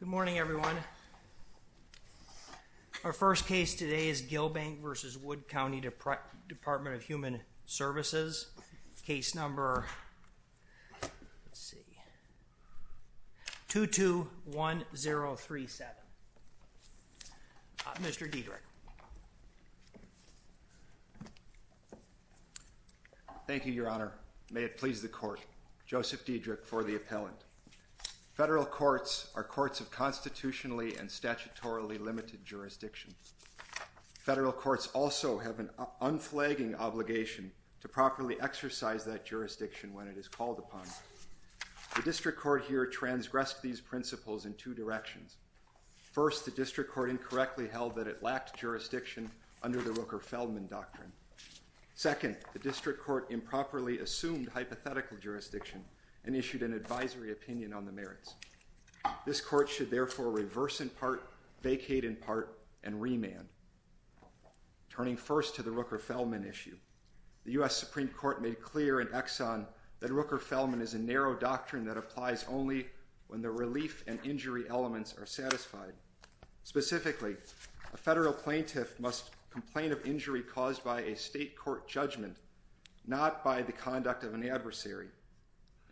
Good morning everyone. Our first case today is Gilbank v. Wood County Department of Human Thank you, Your Honor. May it please the court, Joseph Diedrich for the appellant. Federal courts are courts of constitutionally and statutorily limited jurisdiction. Federal courts also have an unflagging obligation to properly exercise that jurisdiction when it is called upon. The district court here transgressed these principles in two directions. First, the district court incorrectly held that it lacked jurisdiction under the Rooker-Feldman doctrine. Second, the district court improperly assumed hypothetical jurisdiction and issued an advisory opinion on the merits. This court should therefore reverse in part, vacate in part, and remand. Turning first to the Rooker-Feldman issue, the U.S. Supreme Court made clear in Exxon that Rooker-Feldman is a narrow doctrine that applies only when the relief and injury elements are satisfied. Specifically, a federal plaintiff must complain of injury caused by a state court judgment, not by the conduct of an adversary.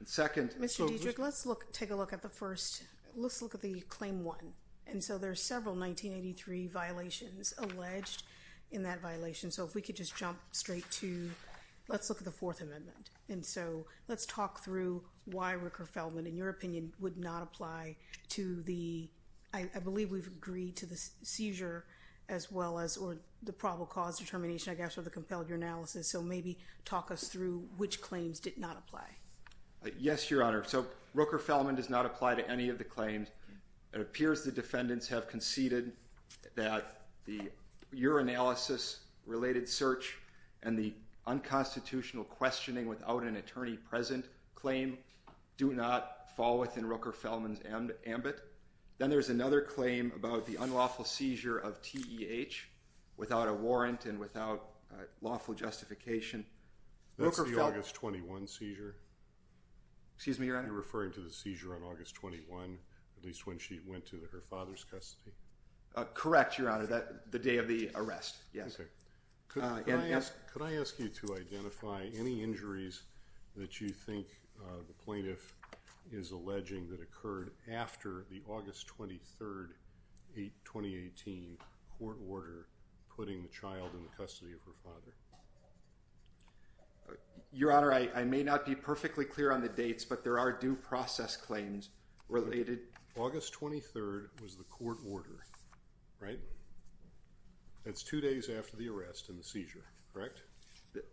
Mr. Diedrich, let's take a look at the first, let's look at the Claim 1. And so there are several 1983 violations alleged in that violation. So if we could just jump straight to, let's look at the Fourth Amendment. And so let's talk through why Rooker-Feldman, in your opinion, would not apply to the, I believe we've agreed to the seizure as well as, or the probable cause determination, I guess, or the compelled urinalysis. So maybe talk us through which claims did not apply. Yes, Your Honor. So Rooker-Feldman does not apply to any of the claims. It appears the defendants have conceded that the urinalysis-related search and the unconstitutional questioning without an attorney present claim do not fall within Rooker-Feldman's ambit. Then there's another claim about the unlawful seizure of TEH without a warrant and without lawful justification. That's the August 21 seizure? Excuse me, Your Honor? You're referring to the seizure on August 21, at least when she went to her father's custody? Correct, Your Honor. The day of the arrest, yes. Okay. Could I ask you to identify any injuries that you think the plaintiff is alleging that occurred after the August 23, 2018 court order putting the child in the custody of her father? Your Honor, I may not be perfectly clear on the dates, but there are due process claims related. August 23 was the court order, right? That's two days after the arrest and the seizure, correct?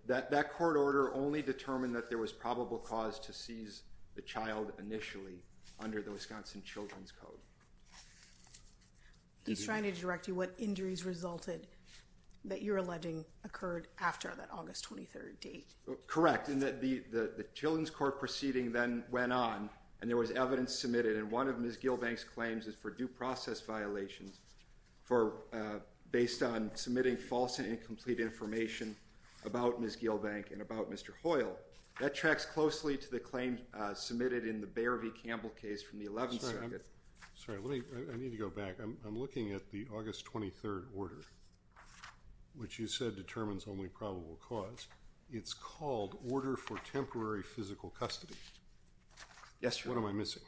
That court order only determined that there was probable cause to seize the child initially under the Wisconsin Children's Code. He's trying to direct you what injuries resulted that you're alleging occurred after that August 23 date. Correct. The Children's Court proceeding then went on, and there was evidence submitted, and one of Ms. Gilbank's claims is for due process violations based on submitting false and incomplete information about Ms. Gilbank and about Mr. Hoyle. That tracks closely to the claim submitted in the Bayer v. Campbell case from the 11th Circuit. Sorry, I need to go back. I'm looking at the August 23 order, which you said determines only probable cause. It's called Order for Temporary Physical Custody. Yes, Your Honor. What am I missing?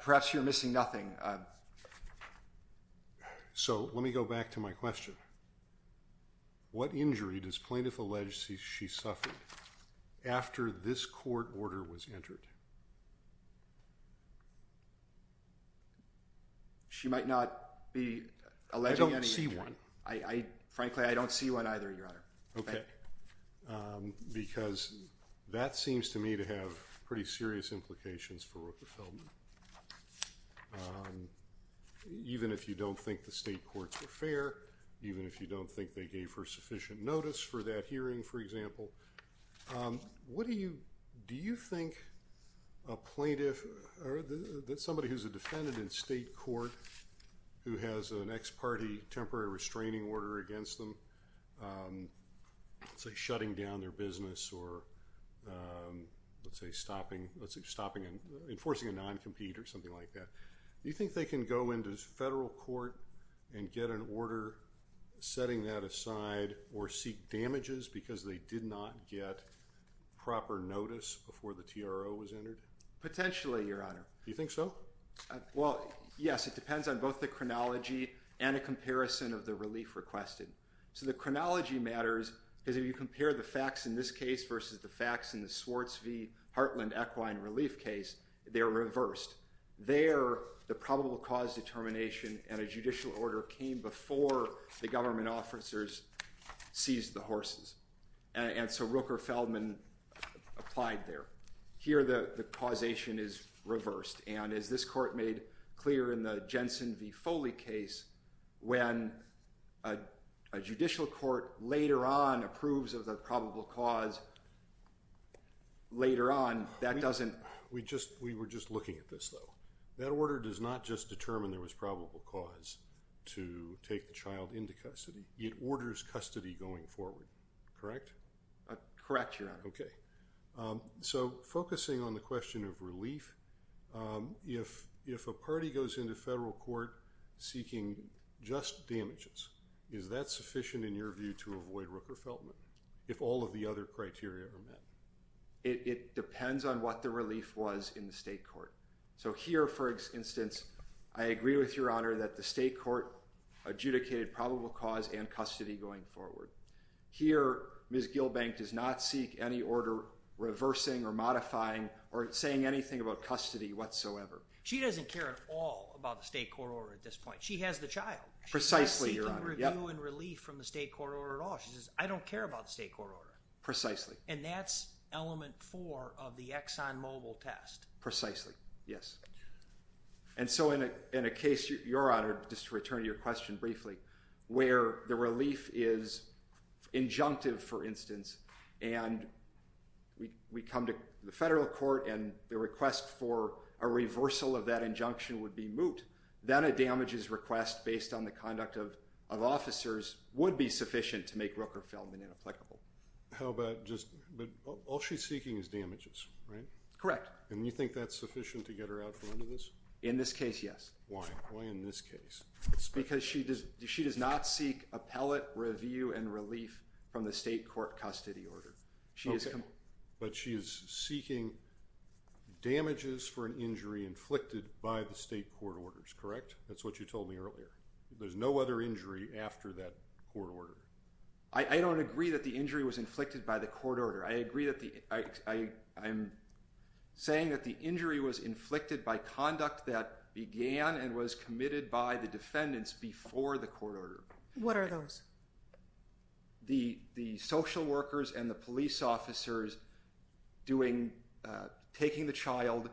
Perhaps you're missing nothing. So let me go back to my question. What injury does plaintiff allege she suffered after this court order was entered? She might not be alleging any injury. I don't see one. Frankly, I don't see one either, Your Honor. Okay. Because that seems to me to have pretty serious implications for Rooker Feldman. Even if you don't think the state courts were fair, even if you don't think they gave her sufficient notice for that hearing, for example. Do you think a plaintiff or somebody who's a defendant in state court who has an ex parte temporary restraining order against them, say shutting down their business or, let's say, enforcing a non-compete or something like that, do you think they can go into federal court and get an order setting that aside or seek damages because they did not get proper notice before the TRO was entered? Potentially, Your Honor. Do you think so? Well, yes. It depends on both the chronology and a comparison of the relief requested. So the chronology matters because if you compare the facts in this case versus the facts in the Swartz v. Hartland Equine Relief case, they're reversed. There, the probable cause determination and a judicial order came before the government officers seized the horses. And so Rooker Feldman applied there. Here, the causation is reversed. And as this court made clear in the Jensen v. Foley case, when a judicial court later on approves of the probable cause later on, that doesn't… We were just looking at this, though. That order does not just determine there was probable cause to take the child into custody. It orders custody going forward, correct? Correct, Your Honor. Okay. So focusing on the question of relief, if a party goes into federal court seeking just damages, is that sufficient in your view to avoid Rooker Feldman if all of the other criteria are met? It depends on what the relief was in the state court. So here, for instance, I agree with Your Honor that the state court adjudicated probable cause and custody going forward. Here, Ms. Gilbank does not seek any order reversing or modifying or saying anything about custody whatsoever. She doesn't care at all about the state court order at this point. She has the child. Precisely, Your Honor. She's not seeking review and relief from the state court order at all. She says, I don't care about the state court order. Precisely. And that's element four of the Exxon Mobil test. Precisely, yes. And so in a case, Your Honor, just to return to your question briefly, where the relief is injunctive, for instance, and we come to the federal court and the request for a reversal of that injunction would be moot, then a damages request based on the conduct of officers would be sufficient to make Rooker Feldman inapplicable. How about just – but all she's seeking is damages, right? Correct. And you think that's sufficient to get her out from under this? In this case, yes. Why? Why in this case? Because she does not seek appellate review and relief from the state court custody order. Okay. But she is seeking damages for an injury inflicted by the state court orders, correct? That's what you told me earlier. There's no other injury after that court order. I don't agree that the injury was inflicted by the court order. I agree that the – I'm saying that the injury was inflicted by conduct that began and was committed by the defendants before the court order. What are those? The social workers and the police officers doing – taking the child,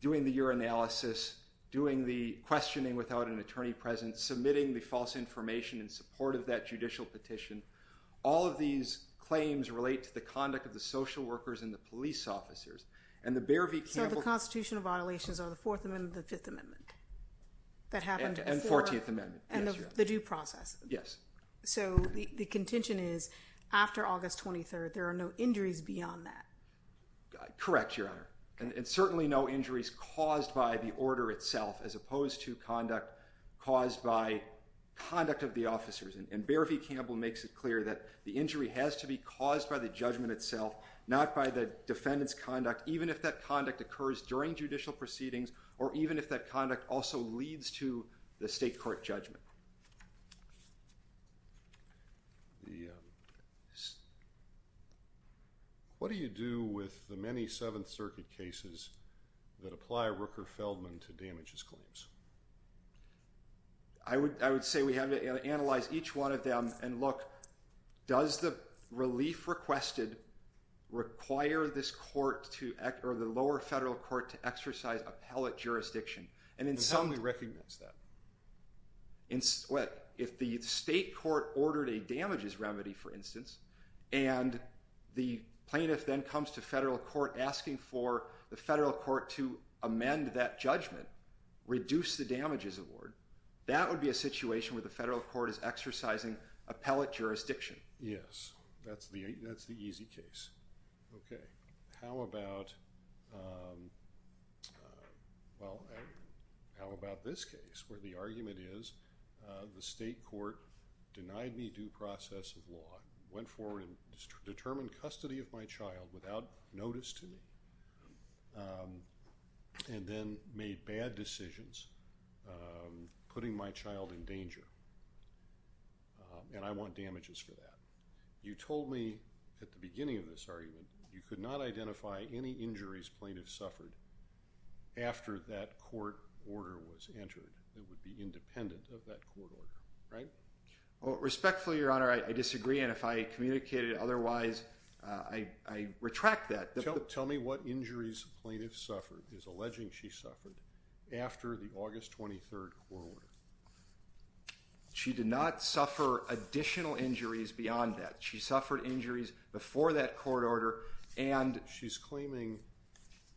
doing the urinalysis, doing the questioning without an attorney present, submitting the false information in support of that judicial petition. All of these claims relate to the conduct of the social workers and the police officers. So the constitutional violations are the Fourth Amendment and the Fifth Amendment that happened before? And the Fourteenth Amendment. And the due process. Yes. So the contention is after August 23rd, there are no injuries beyond that. Correct, Your Honor. And certainly no injuries caused by the order itself as opposed to conduct caused by conduct of the officers. And Bear v. Campbell makes it clear that the injury has to be caused by the judgment itself, not by the defendant's conduct, even if that conduct occurs during judicial proceedings or even if that conduct also leads to the state court judgment. What do you do with the many Seventh Circuit cases that apply Rooker-Feldman to damages claims? I would say we have to analyze each one of them and look, does the relief requested require this court to – or the lower federal court to exercise appellate jurisdiction? How do we recognize that? If the state court ordered a damages remedy, for instance, and the plaintiff then comes to federal court asking for the federal court to amend that judgment, reduce the damages award, that would be a situation where the federal court is exercising appellate jurisdiction. Yes. That's the easy case. Okay. How about – well, how about this case where the argument is the state court denied me due process of law, went forward and determined custody of my child without notice to me, and then made bad decisions putting my child in danger, and I want damages for that. You told me at the beginning of this argument you could not identify any injuries plaintiff suffered after that court order was entered that would be independent of that court order, right? Well, respectfully, Your Honor, I disagree, and if I communicated otherwise, I retract that. Tell me what injuries plaintiff suffered. It's alleging she suffered after the August 23rd court order. She did not suffer additional injuries beyond that. She suffered injuries before that court order and – She's claiming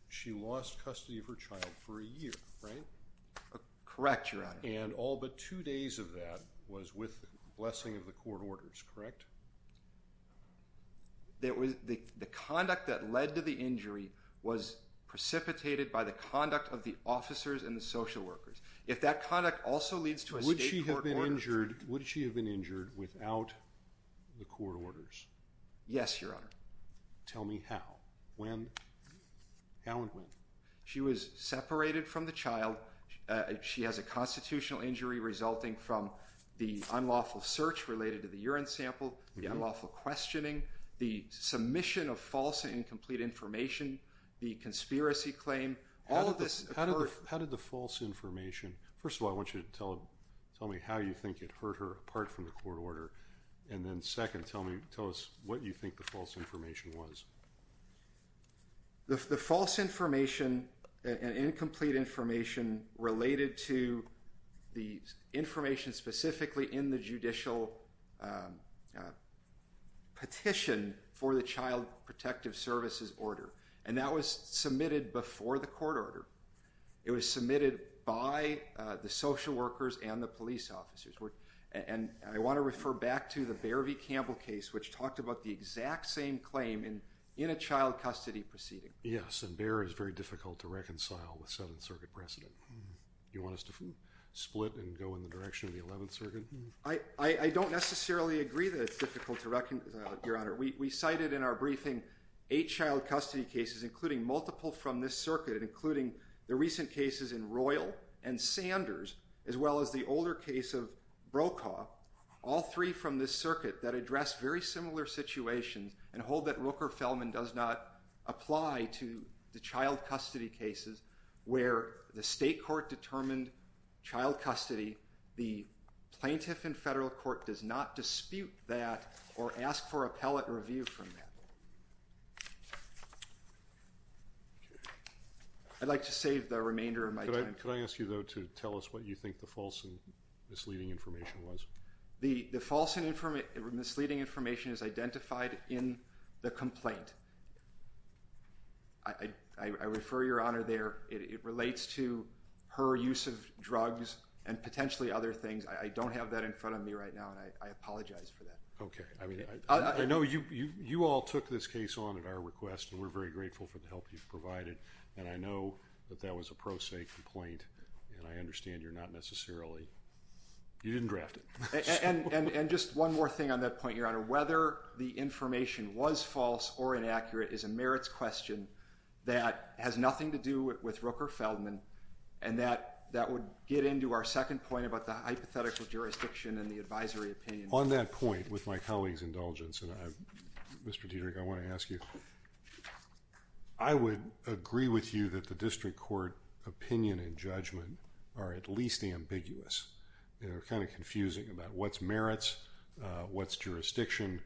she lost custody of her child for a year, right? Correct, Your Honor. And all but two days of that was with blessing of the court orders, correct? The conduct that led to the injury was precipitated by the conduct of the officers and the social workers. If that conduct also leads to a state court order – Would she have been injured without the court orders? Yes, Your Honor. Tell me how, when, how and when. She was separated from the child. She has a constitutional injury resulting from the unlawful search related to the urine sample, the unlawful questioning, the submission of false and incomplete information, the conspiracy claim. All of this occurred – How did the false information – First of all, I want you to tell me how you think it hurt her apart from the court order, and then second, tell us what you think the false information was. The false information and incomplete information related to the information specifically in the judicial petition for the Child Protective Services order, and that was submitted before the court order. It was submitted by the social workers and the police officers. And I want to refer back to the Bear v. Campbell case, which talked about the exact same claim in a child custody proceeding. Yes, and Bear is very difficult to reconcile with Seventh Circuit precedent. Do you want us to split and go in the direction of the Eleventh Circuit? I don't necessarily agree that it's difficult to reconcile, Your Honor. We cited in our briefing eight child custody cases, including multiple from this circuit, including the recent cases in Royal and Sanders, as well as the older case of Brokaw, all three from this circuit that address very similar situations and hold that Rooker-Felman does not apply to the child custody cases where the state court determined child custody. The plaintiff in federal court does not dispute that or ask for appellate review from that. I'd like to save the remainder of my time. Could I ask you, though, to tell us what you think the false and misleading information was? The false and misleading information is identified in the complaint. I refer Your Honor there. It relates to her use of drugs and potentially other things. I don't have that in front of me right now, and I apologize for that. Okay. I mean, I know you all took this case on at our request, and we're very grateful for the help you've provided. And I know that that was a pro se complaint, and I understand you're not necessarily—you didn't draft it. Your Honor, whether the information was false or inaccurate is a merits question that has nothing to do with Rooker-Felman, and that would get into our second point about the hypothetical jurisdiction and the advisory opinion. On that point, with my colleague's indulgence, Mr. Dietrich, I want to ask you, I would agree with you that the district court opinion and judgment are at least ambiguous. They're kind of confusing about what's merits, what's jurisdiction,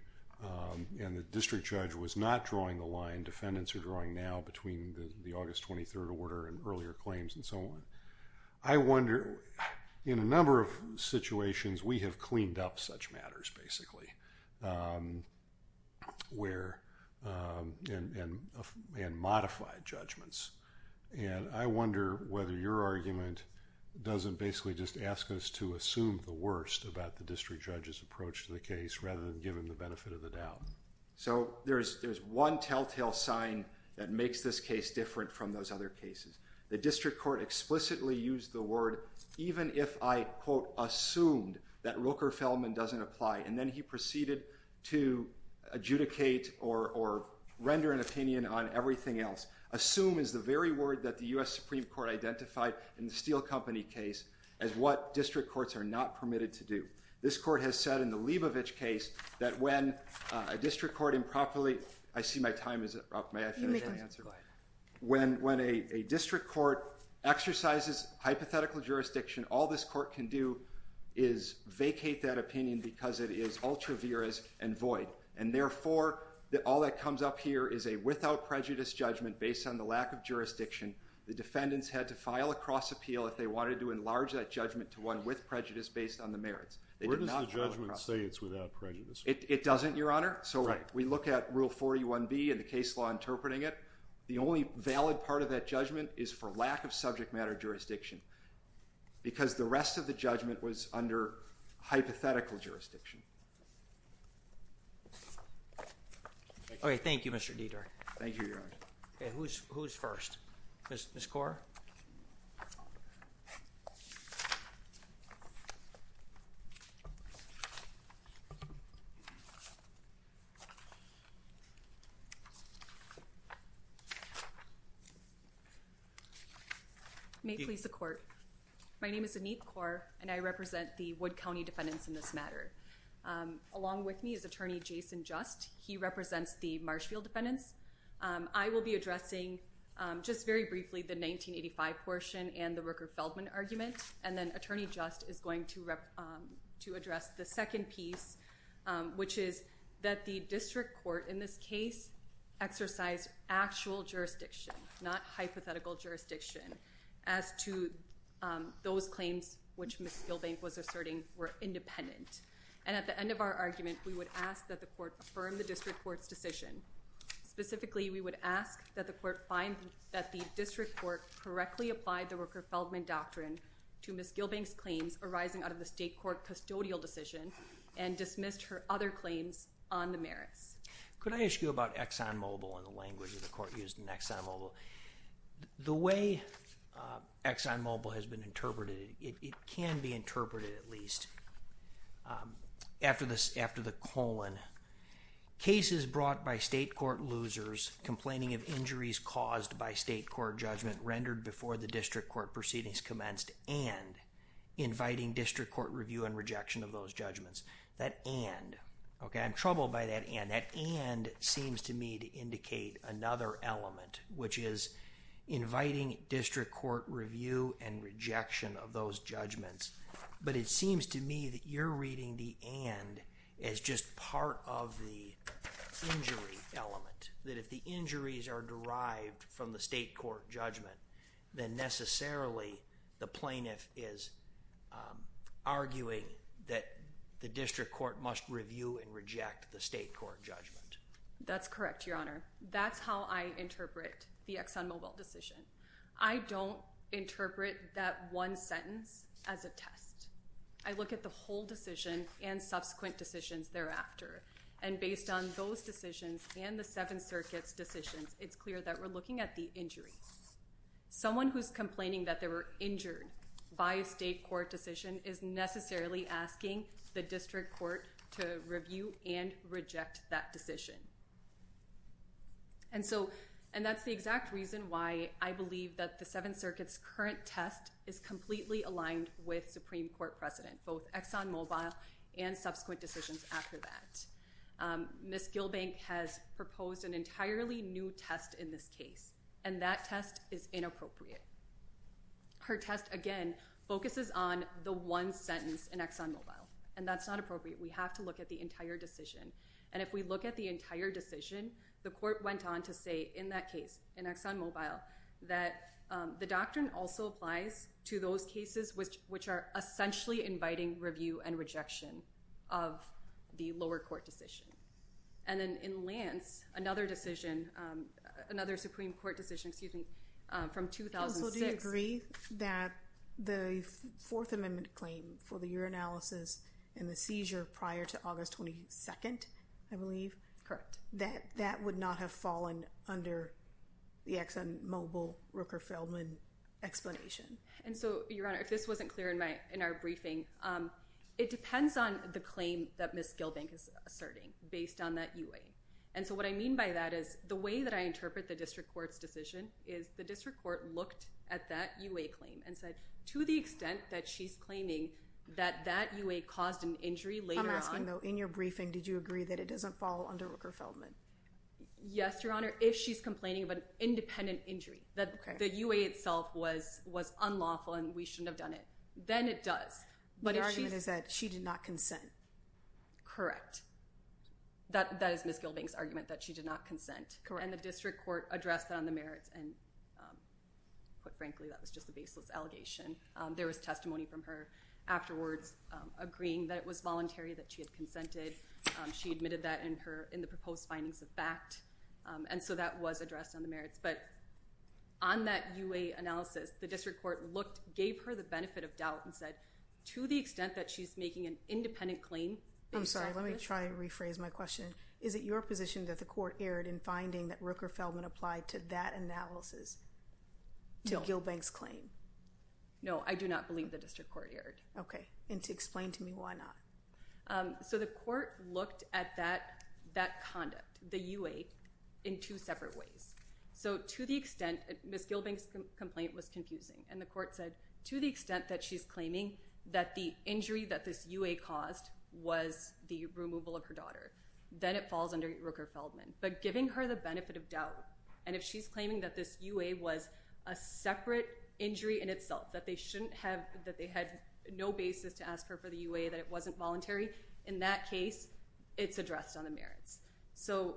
and the district judge was not drawing the line defendants are drawing now between the August 23rd order and earlier claims and so on. I wonder—in a number of situations, we have cleaned up such matters, basically, where—and modified judgments. And I wonder whether your argument doesn't basically just ask us to assume the worst about the district judge's approach to the case rather than give him the benefit of the doubt. So there's one telltale sign that makes this case different from those other cases. The district court explicitly used the word even if I, quote, assumed that Rooker-Felman doesn't apply, and then he proceeded to adjudicate or render an opinion on everything else. Assume is the very word that the U.S. Supreme Court identified in the Steel Company case as what district courts are not permitted to do. This court has said in the Lebovich case that when a district court improperly— I see my time is up. May I finish my answer? You may finish. Go ahead. When a district court exercises hypothetical jurisdiction, all this court can do is vacate that opinion because it is ultra viris and void. And therefore, all that comes up here is a without prejudice judgment based on the lack of jurisdiction. The defendants had to file a cross appeal if they wanted to enlarge that judgment to one with prejudice based on the merits. Where does the judgment say it's without prejudice? It doesn't, Your Honor. So we look at Rule 41B and the case law interpreting it. The only valid part of that judgment is for lack of subject matter jurisdiction because the rest of the judgment was under hypothetical jurisdiction. All right. Thank you, Mr. Dieter. Thank you, Your Honor. Who's first? Ms. Kaur? May it please the court. My name is Anit Kaur, and I represent the Wood County defendants in this matter. Along with me is Attorney Jason Just. He represents the Marshfield defendants. I will be addressing just very briefly the 1985 portion and the Rooker-Feldman argument, and then Attorney Just is going to address the second piece, which is that the district court in this case exercised actual jurisdiction, not hypothetical jurisdiction as to those claims which Ms. Gilbank was asserting were independent. And at the end of our argument, we would ask that the court affirm the district court's decision. Specifically, we would ask that the court find that the district court correctly applied the Rooker-Feldman doctrine to Ms. Gilbank's claims arising out of the state court custodial decision and dismissed her other claims on the merits. Could I ask you about ExxonMobil and the language of the court used in ExxonMobil? The way ExxonMobil has been interpreted, it can be interpreted at least, after the colon, cases brought by state court losers complaining of injuries caused by state court judgment rendered before the district court proceedings commenced and inviting district court review and rejection of those judgments. That and, okay, I'm troubled by that and. That and seems to me to indicate another element, which is inviting district court review and rejection of those judgments. But it seems to me that you're reading the and as just part of the injury element, that if the injuries are derived from the state court judgment, then necessarily the plaintiff is arguing that the district court must review and reject the state court judgment. That's correct, Your Honor. That's how I interpret the ExxonMobil decision. I don't interpret that one sentence as a test. I look at the whole decision and subsequent decisions thereafter. And based on those decisions and the Seventh Circuit's decisions, it's clear that we're looking at the injury. Someone who's complaining that they were injured by a state court decision is necessarily asking the district court to review and reject that decision. And so, and that's the exact reason why I believe that the Seventh Circuit's current test is completely aligned with Supreme Court precedent, both ExxonMobil and subsequent decisions after that. Ms. Gilbank has proposed an entirely new test in this case, and that test is inappropriate. Her test, again, focuses on the one sentence in ExxonMobil, and that's not appropriate. We have to look at the entire decision. And if we look at the entire decision, the court went on to say in that case, in ExxonMobil, that the doctrine also applies to those cases which are essentially inviting review and rejection of the lower court decision. And then in Lance, another decision, another Supreme Court decision, excuse me, from 2006— So do you agree that the Fourth Amendment claim for the urinalysis and the seizure prior to August 22nd, I believe? Correct. That would not have fallen under the ExxonMobil-Rooker-Feldman explanation? And so, Your Honor, if this wasn't clear in our briefing, it depends on the claim that Ms. Gilbank is asserting based on that UA. And so what I mean by that is the way that I interpret the district court's decision is the district court looked at that UA claim and said to the extent that she's claiming that that UA caused an injury later on— Yes, Your Honor. If she's complaining of an independent injury, that the UA itself was unlawful and we shouldn't have done it, then it does. But if she— The argument is that she did not consent. Correct. That is Ms. Gilbank's argument, that she did not consent. Correct. And the district court addressed that on the merits and, quite frankly, that was just a baseless allegation. There was testimony from her afterwards agreeing that it was voluntary, that she had consented. She admitted that in the proposed findings of fact. And so that was addressed on the merits. But on that UA analysis, the district court looked, gave her the benefit of doubt, and said to the extent that she's making an independent claim— I'm sorry. Let me try to rephrase my question. Is it your position that the court erred in finding that Rooker-Feldman applied to that analysis to Gilbank's claim? No, I do not believe the district court erred. Okay. And to explain to me why not. So the court looked at that conduct, the UA, in two separate ways. So to the extent—Ms. Gilbank's complaint was confusing. And the court said to the extent that she's claiming that the injury that this UA caused was the removal of her daughter, then it falls under Rooker-Feldman. But giving her the benefit of doubt, and if she's claiming that this UA was a separate injury in itself, that they had no basis to ask her for the UA, that it wasn't voluntary, in that case, it's addressed on the merits. So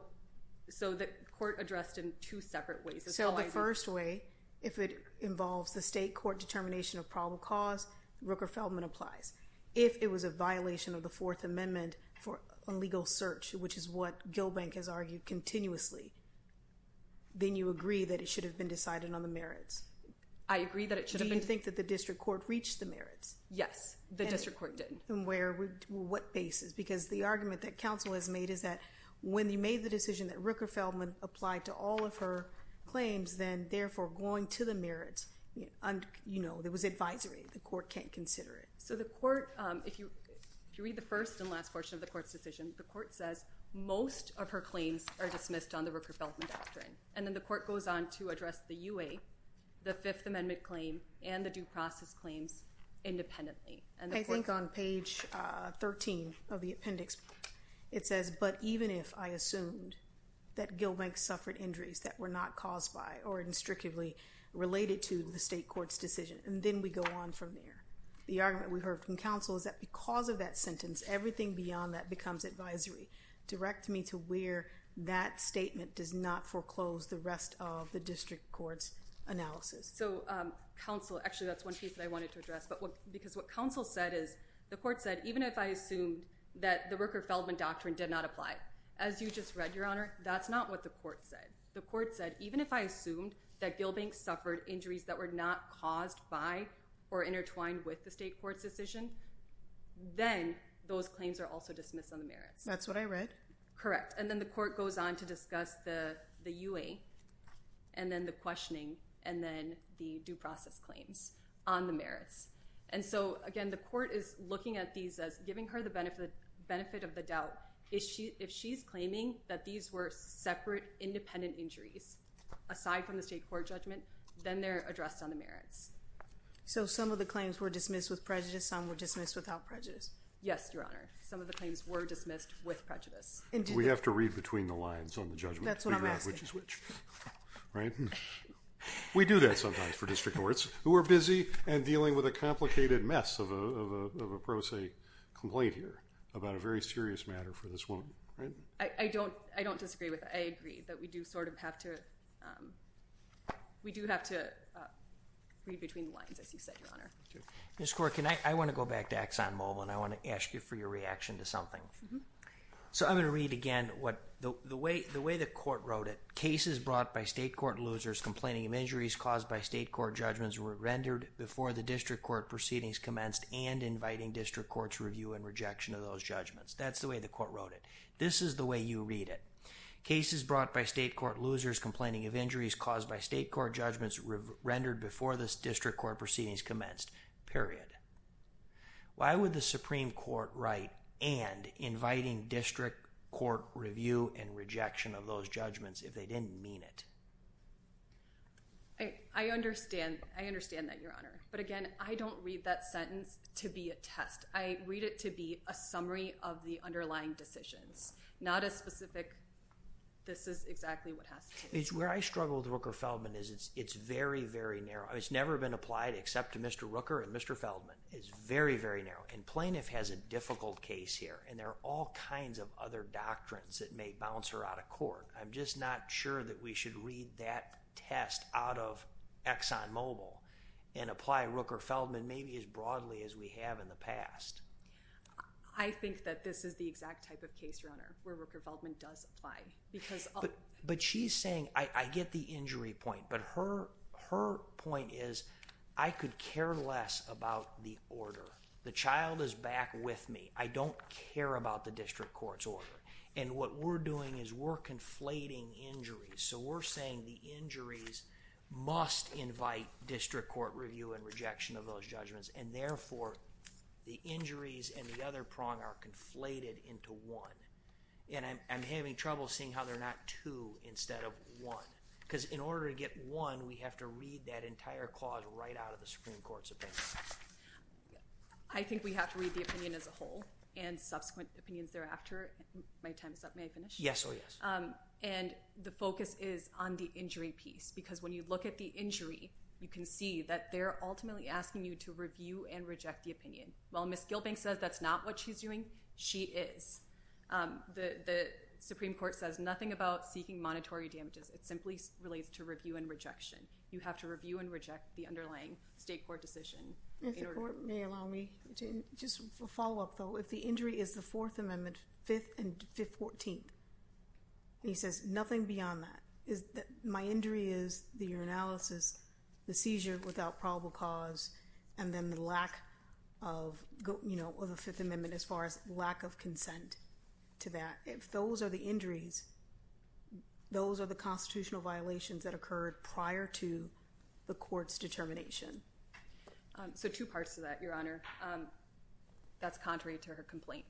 the court addressed in two separate ways. So the first way, if it involves the state court determination of probable cause, Rooker-Feldman applies. If it was a violation of the Fourth Amendment for illegal search, which is what Gilbank has argued continuously, then you agree that it should have been decided on the merits. I agree that it should have been— Do you think that the district court reached the merits? Yes, the district court did. And where—what basis? Because the argument that counsel has made is that when you made the decision that Rooker-Feldman applied to all of her claims, then therefore going to the merits, you know, there was advisory. The court can't consider it. So the court—if you read the first and last portion of the court's decision, the court says most of her claims are dismissed on the Rooker-Feldman doctrine. And then the court goes on to address the UA, the Fifth Amendment claim, and the due process claims independently. I think on page 13 of the appendix, it says, but even if I assumed that Gilbank suffered injuries that were not caused by or instructively related to the state court's decision. And then we go on from there. The argument we heard from counsel is that because of that sentence, everything beyond that becomes advisory. Direct me to where that statement does not foreclose the rest of the district court's analysis. So counsel—actually, that's one piece that I wanted to address. Because what counsel said is the court said, even if I assumed that the Rooker-Feldman doctrine did not apply. As you just read, Your Honor, that's not what the court said. The court said, even if I assumed that Gilbank suffered injuries that were not caused by or intertwined with the state court's decision, then those claims are also dismissed on the merits. That's what I read. Correct. And then the court goes on to discuss the UA, and then the questioning, and then the due process claims on the merits. And so, again, the court is looking at these as giving her the benefit of the doubt. If she's claiming that these were separate, independent injuries, aside from the state court judgment, then they're addressed on the merits. So some of the claims were dismissed with prejudice. Some were dismissed without prejudice. Yes, Your Honor, some of the claims were dismissed with prejudice. We have to read between the lines on the judgment to figure out which is which. That's what I'm asking. Right? We do that sometimes for district courts, who are busy and dealing with a complicated mess of a pro se complaint here about a very serious matter for this woman. I don't disagree with that. I agree that we do sort of have to read between the lines, as you said, Your Honor. Ms. Corkin, I want to go back to Exxon Mobil, and I want to ask you for your reaction to something. So I'm going to read again the way the court wrote it. Cases brought by state court losers complaining of injuries caused by state court judgments were rendered before the district court proceedings commenced and inviting district courts to review and rejection of those judgments. That's the way the court wrote it. This is the way you read it. Cases brought by state court losers complaining of injuries caused by state court judgments were rendered before the district court proceedings commenced, period. Why would the Supreme Court write and inviting district court review and rejection of those judgments if they didn't mean it? I understand that, Your Honor. But, again, I don't read that sentence to be a test. I read it to be a summary of the underlying decisions, not a specific this is exactly what has to be. Where I struggle with Rooker-Feldman is it's very, very narrow. It's never been applied except to Mr. Rooker and Mr. Feldman. It's very, very narrow. And Plaintiff has a difficult case here, and there are all kinds of other doctrines that may bounce her out of court. I'm just not sure that we should read that test out of Exxon Mobil and apply Rooker-Feldman maybe as broadly as we have in the past. I think that this is the exact type of case, Your Honor, where Rooker-Feldman does apply. But she's saying I get the injury point, but her point is I could care less about the order. The child is back with me. I don't care about the district court's order. And what we're doing is we're conflating injuries. So we're saying the injuries must invite district court review and rejection of those judgments, and, therefore, the injuries and the other prong are conflated into one. And I'm having trouble seeing how they're not two instead of one, because in order to get one, we have to read that entire clause right out of the Supreme Court's opinion. I think we have to read the opinion as a whole and subsequent opinions thereafter. My time is up. May I finish? Yes, oh, yes. And the focus is on the injury piece, because when you look at the injury, you can see that they're ultimately asking you to review and reject the opinion. Well, Ms. Gilbank says that's not what she's doing. She is. The Supreme Court says nothing about seeking monetary damages. It simply relates to review and rejection. You have to review and reject the underlying state court decision. If the court may allow me to just follow up, though. If the injury is the Fourth Amendment, 5th and 14th, and he says nothing beyond that, my injury is the urinalysis, the seizure without probable cause, and then the lack of a Fifth Amendment as far as lack of consent to that. If those are the injuries, those are the constitutional violations that occurred prior to the court's determination. So two parts to that, Your Honor. That's contrary to her complaint.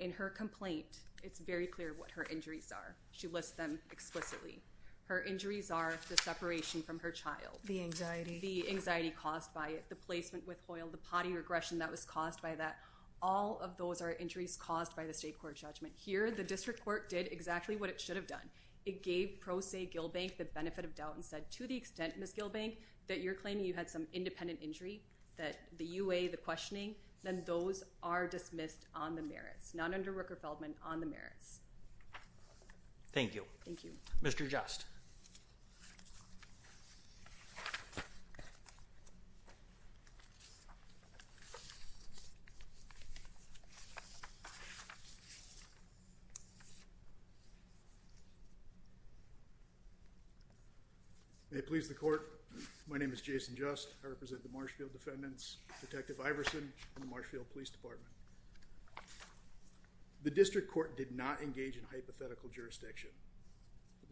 In her complaint, it's very clear what her injuries are. She lists them explicitly. Her injuries are the separation from her child. The anxiety. The anxiety caused by it, the placement with Hoyle, the potty regression that was caused by that. All of those are injuries caused by the state court judgment. Here, the district court did exactly what it should have done. It gave Pro Se Gilbank the benefit of doubt and said, to the extent, Ms. Gilbank, that you're claiming you had some independent injury, that the UA, the questioning, then those are dismissed on the merits, not under Rooker-Feldman, on the merits. Thank you. Thank you. Mr. Just. May it please the court, my name is Jason Just. I represent the Marshfield Defendants, Detective Iverson, and the Marshfield Police Department. The district court did not engage in hypothetical jurisdiction.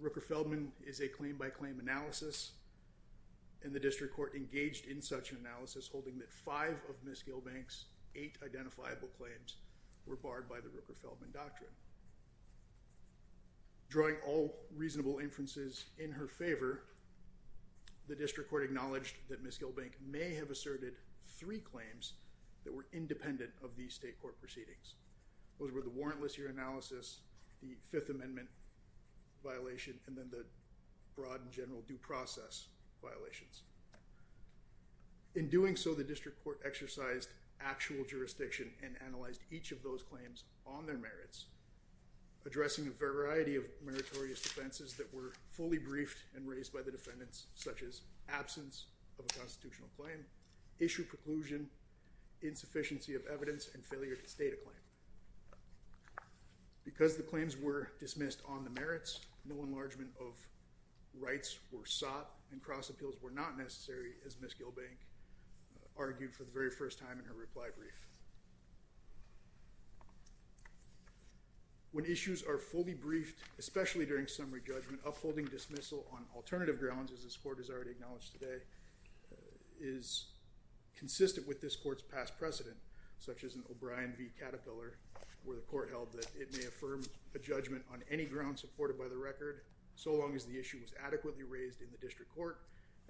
Rooker-Feldman is a claim-by-claim analysis, and the district court engaged in such an analysis, holding that five of Ms. Gilbank's eight identifiable claims were barred by the Rooker-Feldman doctrine. Drawing all reasonable inferences in her favor, the district court acknowledged that Ms. Gilbank may have asserted three claims that were independent of these state court proceedings. Those were the warrantless year analysis, the Fifth Amendment violation, and then the broad and general due process violations. In doing so, the district court exercised actual jurisdiction and analyzed each of those claims on their merits, addressing a variety of meritorious offenses that were fully briefed and raised by the defendants, such as absence of a constitutional claim, issue preclusion, insufficiency of evidence, and failure to state a claim. Because the claims were dismissed on the merits, no enlargement of rights were sought, and cross appeals were not necessary, as Ms. Gilbank argued for the very first time in her reply brief. When issues are fully briefed, especially during summary judgment, upholding dismissal on alternative grounds, as this court has already acknowledged today, is consistent with this court's past precedent, such as in O'Brien v. Caterpillar, where the court held that it may affirm a judgment on any ground supported by the record, so long as the issue was adequately raised in the district court,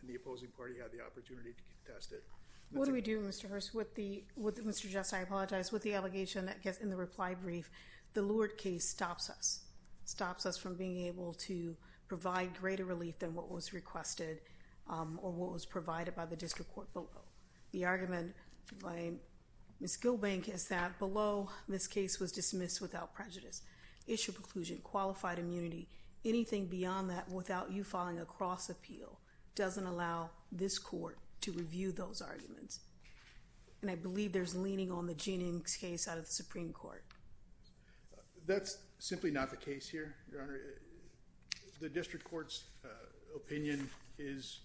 and the opposing party had the opportunity to contest it. What do we do, Mr. Hirst? Mr. Jess, I apologize. With the allegation that gets in the reply brief, the Lourd case stops us. It stops us from being able to provide greater relief than what was requested or what was provided by the district court below. The argument by Ms. Gilbank is that below, this case was dismissed without prejudice. Issue preclusion, qualified immunity, anything beyond that without you filing a cross appeal doesn't allow this court to review those arguments, and I believe there's leaning on the Jeannine case out of the Supreme Court. That's simply not the case here, Your Honor. The district court's opinion is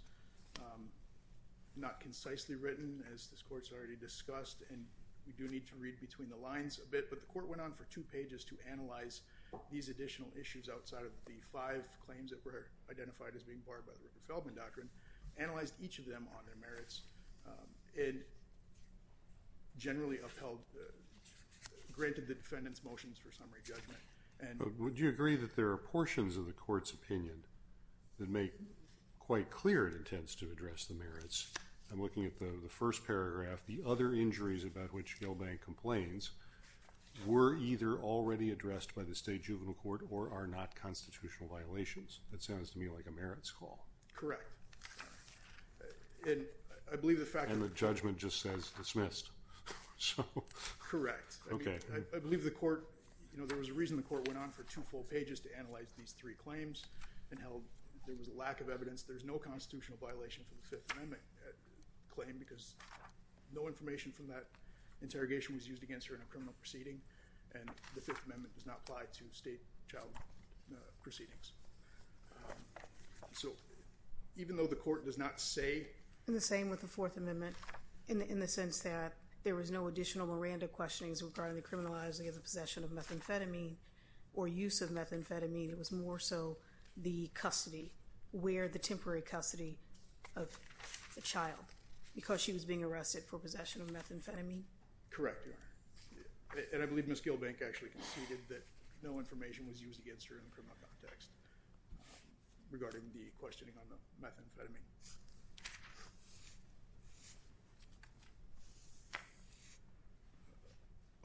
not concisely written, as this court's already discussed, but the court went on for two pages to analyze these additional issues outside of the five claims that were identified as being barred by the Rupert Feldman Doctrine, analyzed each of them on their merits, and generally upheld, granted the defendant's motions for summary judgment. Would you agree that there are portions of the court's opinion I'm looking at the first paragraph, the other injuries about which Gilbank complains were either already addressed by the State Juvenile Court or are not constitutional violations? That sounds to me like a merits call. Correct. And I believe the fact that And the judgment just says dismissed. Correct. Okay. I believe the court, you know, there was a reason the court went on for two full pages to analyze these three claims and held there was a lack of evidence, there's no constitutional violation for the Fifth Amendment claim because no information from that interrogation was used against her in a criminal proceeding and the Fifth Amendment does not apply to state child proceedings. So even though the court does not say In the same with the Fourth Amendment, in the sense that there was no additional Miranda questionings regarding the criminalizing of the possession of methamphetamine or use of methamphetamine, it was more so the custody where the temporary custody of the child because she was being arrested for possession of methamphetamine. Correct. And I believe Ms. Gilbank actually conceded that no information was used against her in the criminal context regarding the questioning on the methamphetamine.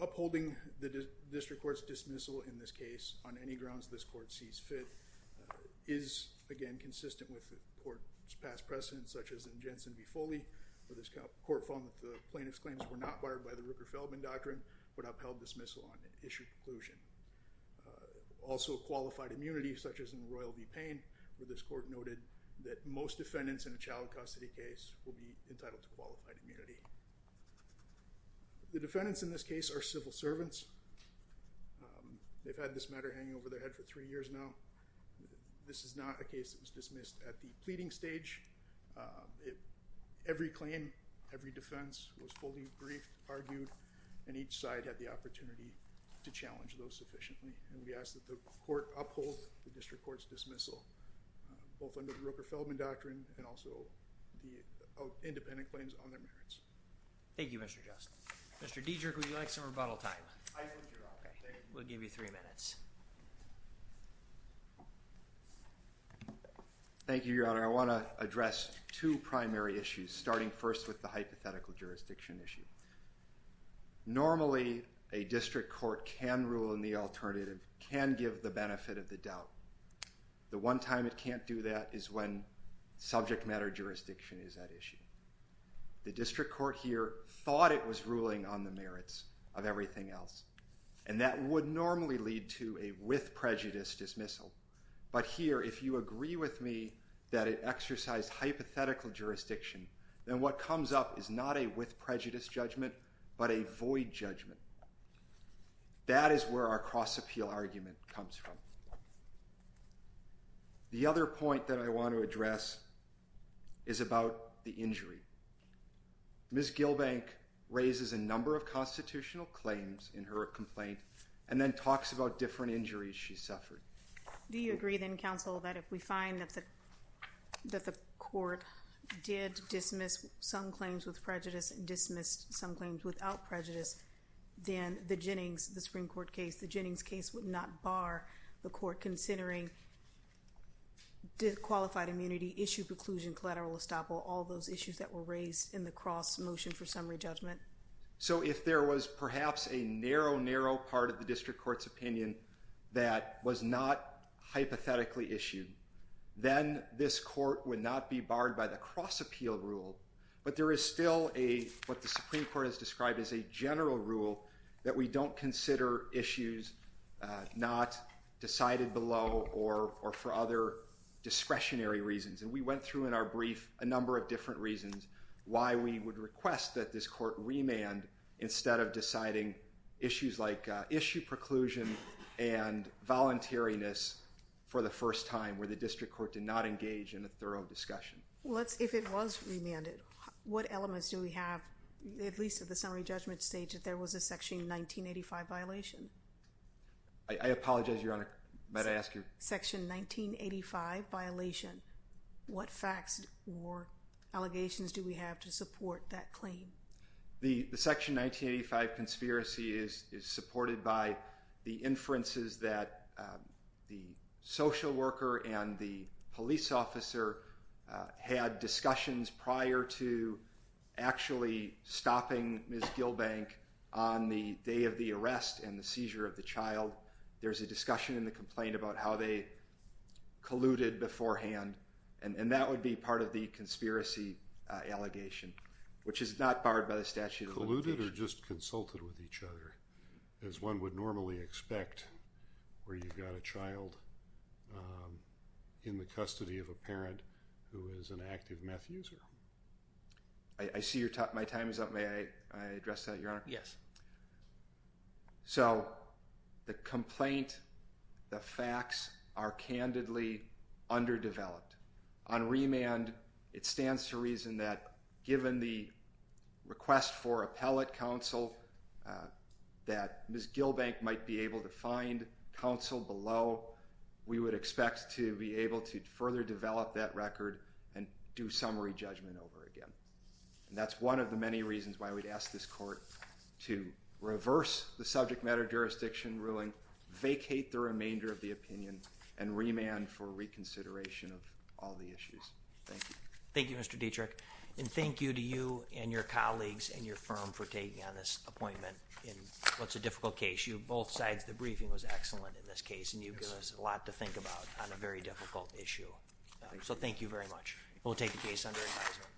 Upholding the district court's dismissal in this case on any grounds this court sees fit is, again, consistent with the court's past precedent, such as in Jensen v. Foley, where this court found that the plaintiff's claims were not barred by the Rooker-Feldman Doctrine but upheld dismissal on an issued conclusion. Also qualified immunity, such as in Royal v. Payne, where this court noted that most defendants in a child custody case will be entitled to qualified immunity. The defendants in this case are civil servants. They've had this matter hanging over their head for three years now. This is not a case that was dismissed at the pleading stage. Every claim, every defense was fully briefed, argued, and each side had the opportunity to challenge those sufficiently. And we ask that the court uphold the district court's dismissal, both under the Rooker-Feldman Doctrine and also the independent claims on their merits. Thank you, Mr. Justin. Mr. Diederich, would you like some rebuttal time? I would, Your Honor. We'll give you three minutes. Thank you, Your Honor. I want to address two primary issues, starting first with the hypothetical jurisdiction issue. Normally, a district court can rule in the alternative, can give the benefit of the doubt. The one time it can't do that is when subject matter jurisdiction is at issue. The district court here thought it was ruling on the merits of everything else, and that would normally lead to a with prejudice dismissal. But here, if you agree with me that it exercised hypothetical jurisdiction, then what comes up is not a with prejudice judgment but a void judgment. That is where our cross-appeal argument comes from. The other point that I want to address is about the injury. Ms. Gilbank raises a number of constitutional claims in her complaint and then talks about different injuries she suffered. Do you agree, then, counsel, that if we find that the court did dismiss some claims with prejudice and dismissed some claims without prejudice, then the Jennings, the Supreme Court case, the Jennings case would not bar the court considering disqualified immunity, issue preclusion, collateral estoppel, all those issues that were raised in the cross motion for summary judgment? So if there was perhaps a narrow, narrow part of the district court's opinion that was not hypothetically issued, then this court would not be barred by the cross-appeal rule. But there is still what the Supreme Court has described as a general rule that we don't consider issues not decided below or for other discretionary reasons. And we went through in our brief a number of different reasons why we would request that this court remand instead of deciding issues like issue preclusion and voluntariness for the first time, where the district court did not engage in a thorough discussion. Well, if it was remanded, what elements do we have, at least at the summary judgment stage, that there was a Section 1985 violation? I apologize, Your Honor, but I ask you. Section 1985 violation, what facts or allegations do we have to support that claim? The Section 1985 conspiracy is supported by the inferences that the social worker and the police officer had discussions prior to actually stopping Ms. Gilbank on the day of the arrest and the seizure of the child. There's a discussion in the complaint about how they colluded beforehand, and that would be part of the conspiracy allegation, which is not barred by the statute of limitations. They could have just consulted with each other, as one would normally expect, where you've got a child in the custody of a parent who is an active meth user. I see my time is up. May I address that, Your Honor? Yes. So the complaint, the facts, are candidly underdeveloped. On remand, it stands to reason that given the request for appellate counsel, that Ms. Gilbank might be able to find counsel below, we would expect to be able to further develop that record and do summary judgment over again. And that's one of the many reasons why we'd ask this Court to reverse the subject matter jurisdiction ruling, vacate the remainder of the opinion, and remand for reconsideration of all the issues. Thank you. Thank you, Mr. Dietrich. And thank you to you and your colleagues and your firm for taking on this appointment in what's a difficult case. Both sides, the briefing was excellent in this case, and you give us a lot to think about on a very difficult issue. So thank you very much. We'll take the case under advisement.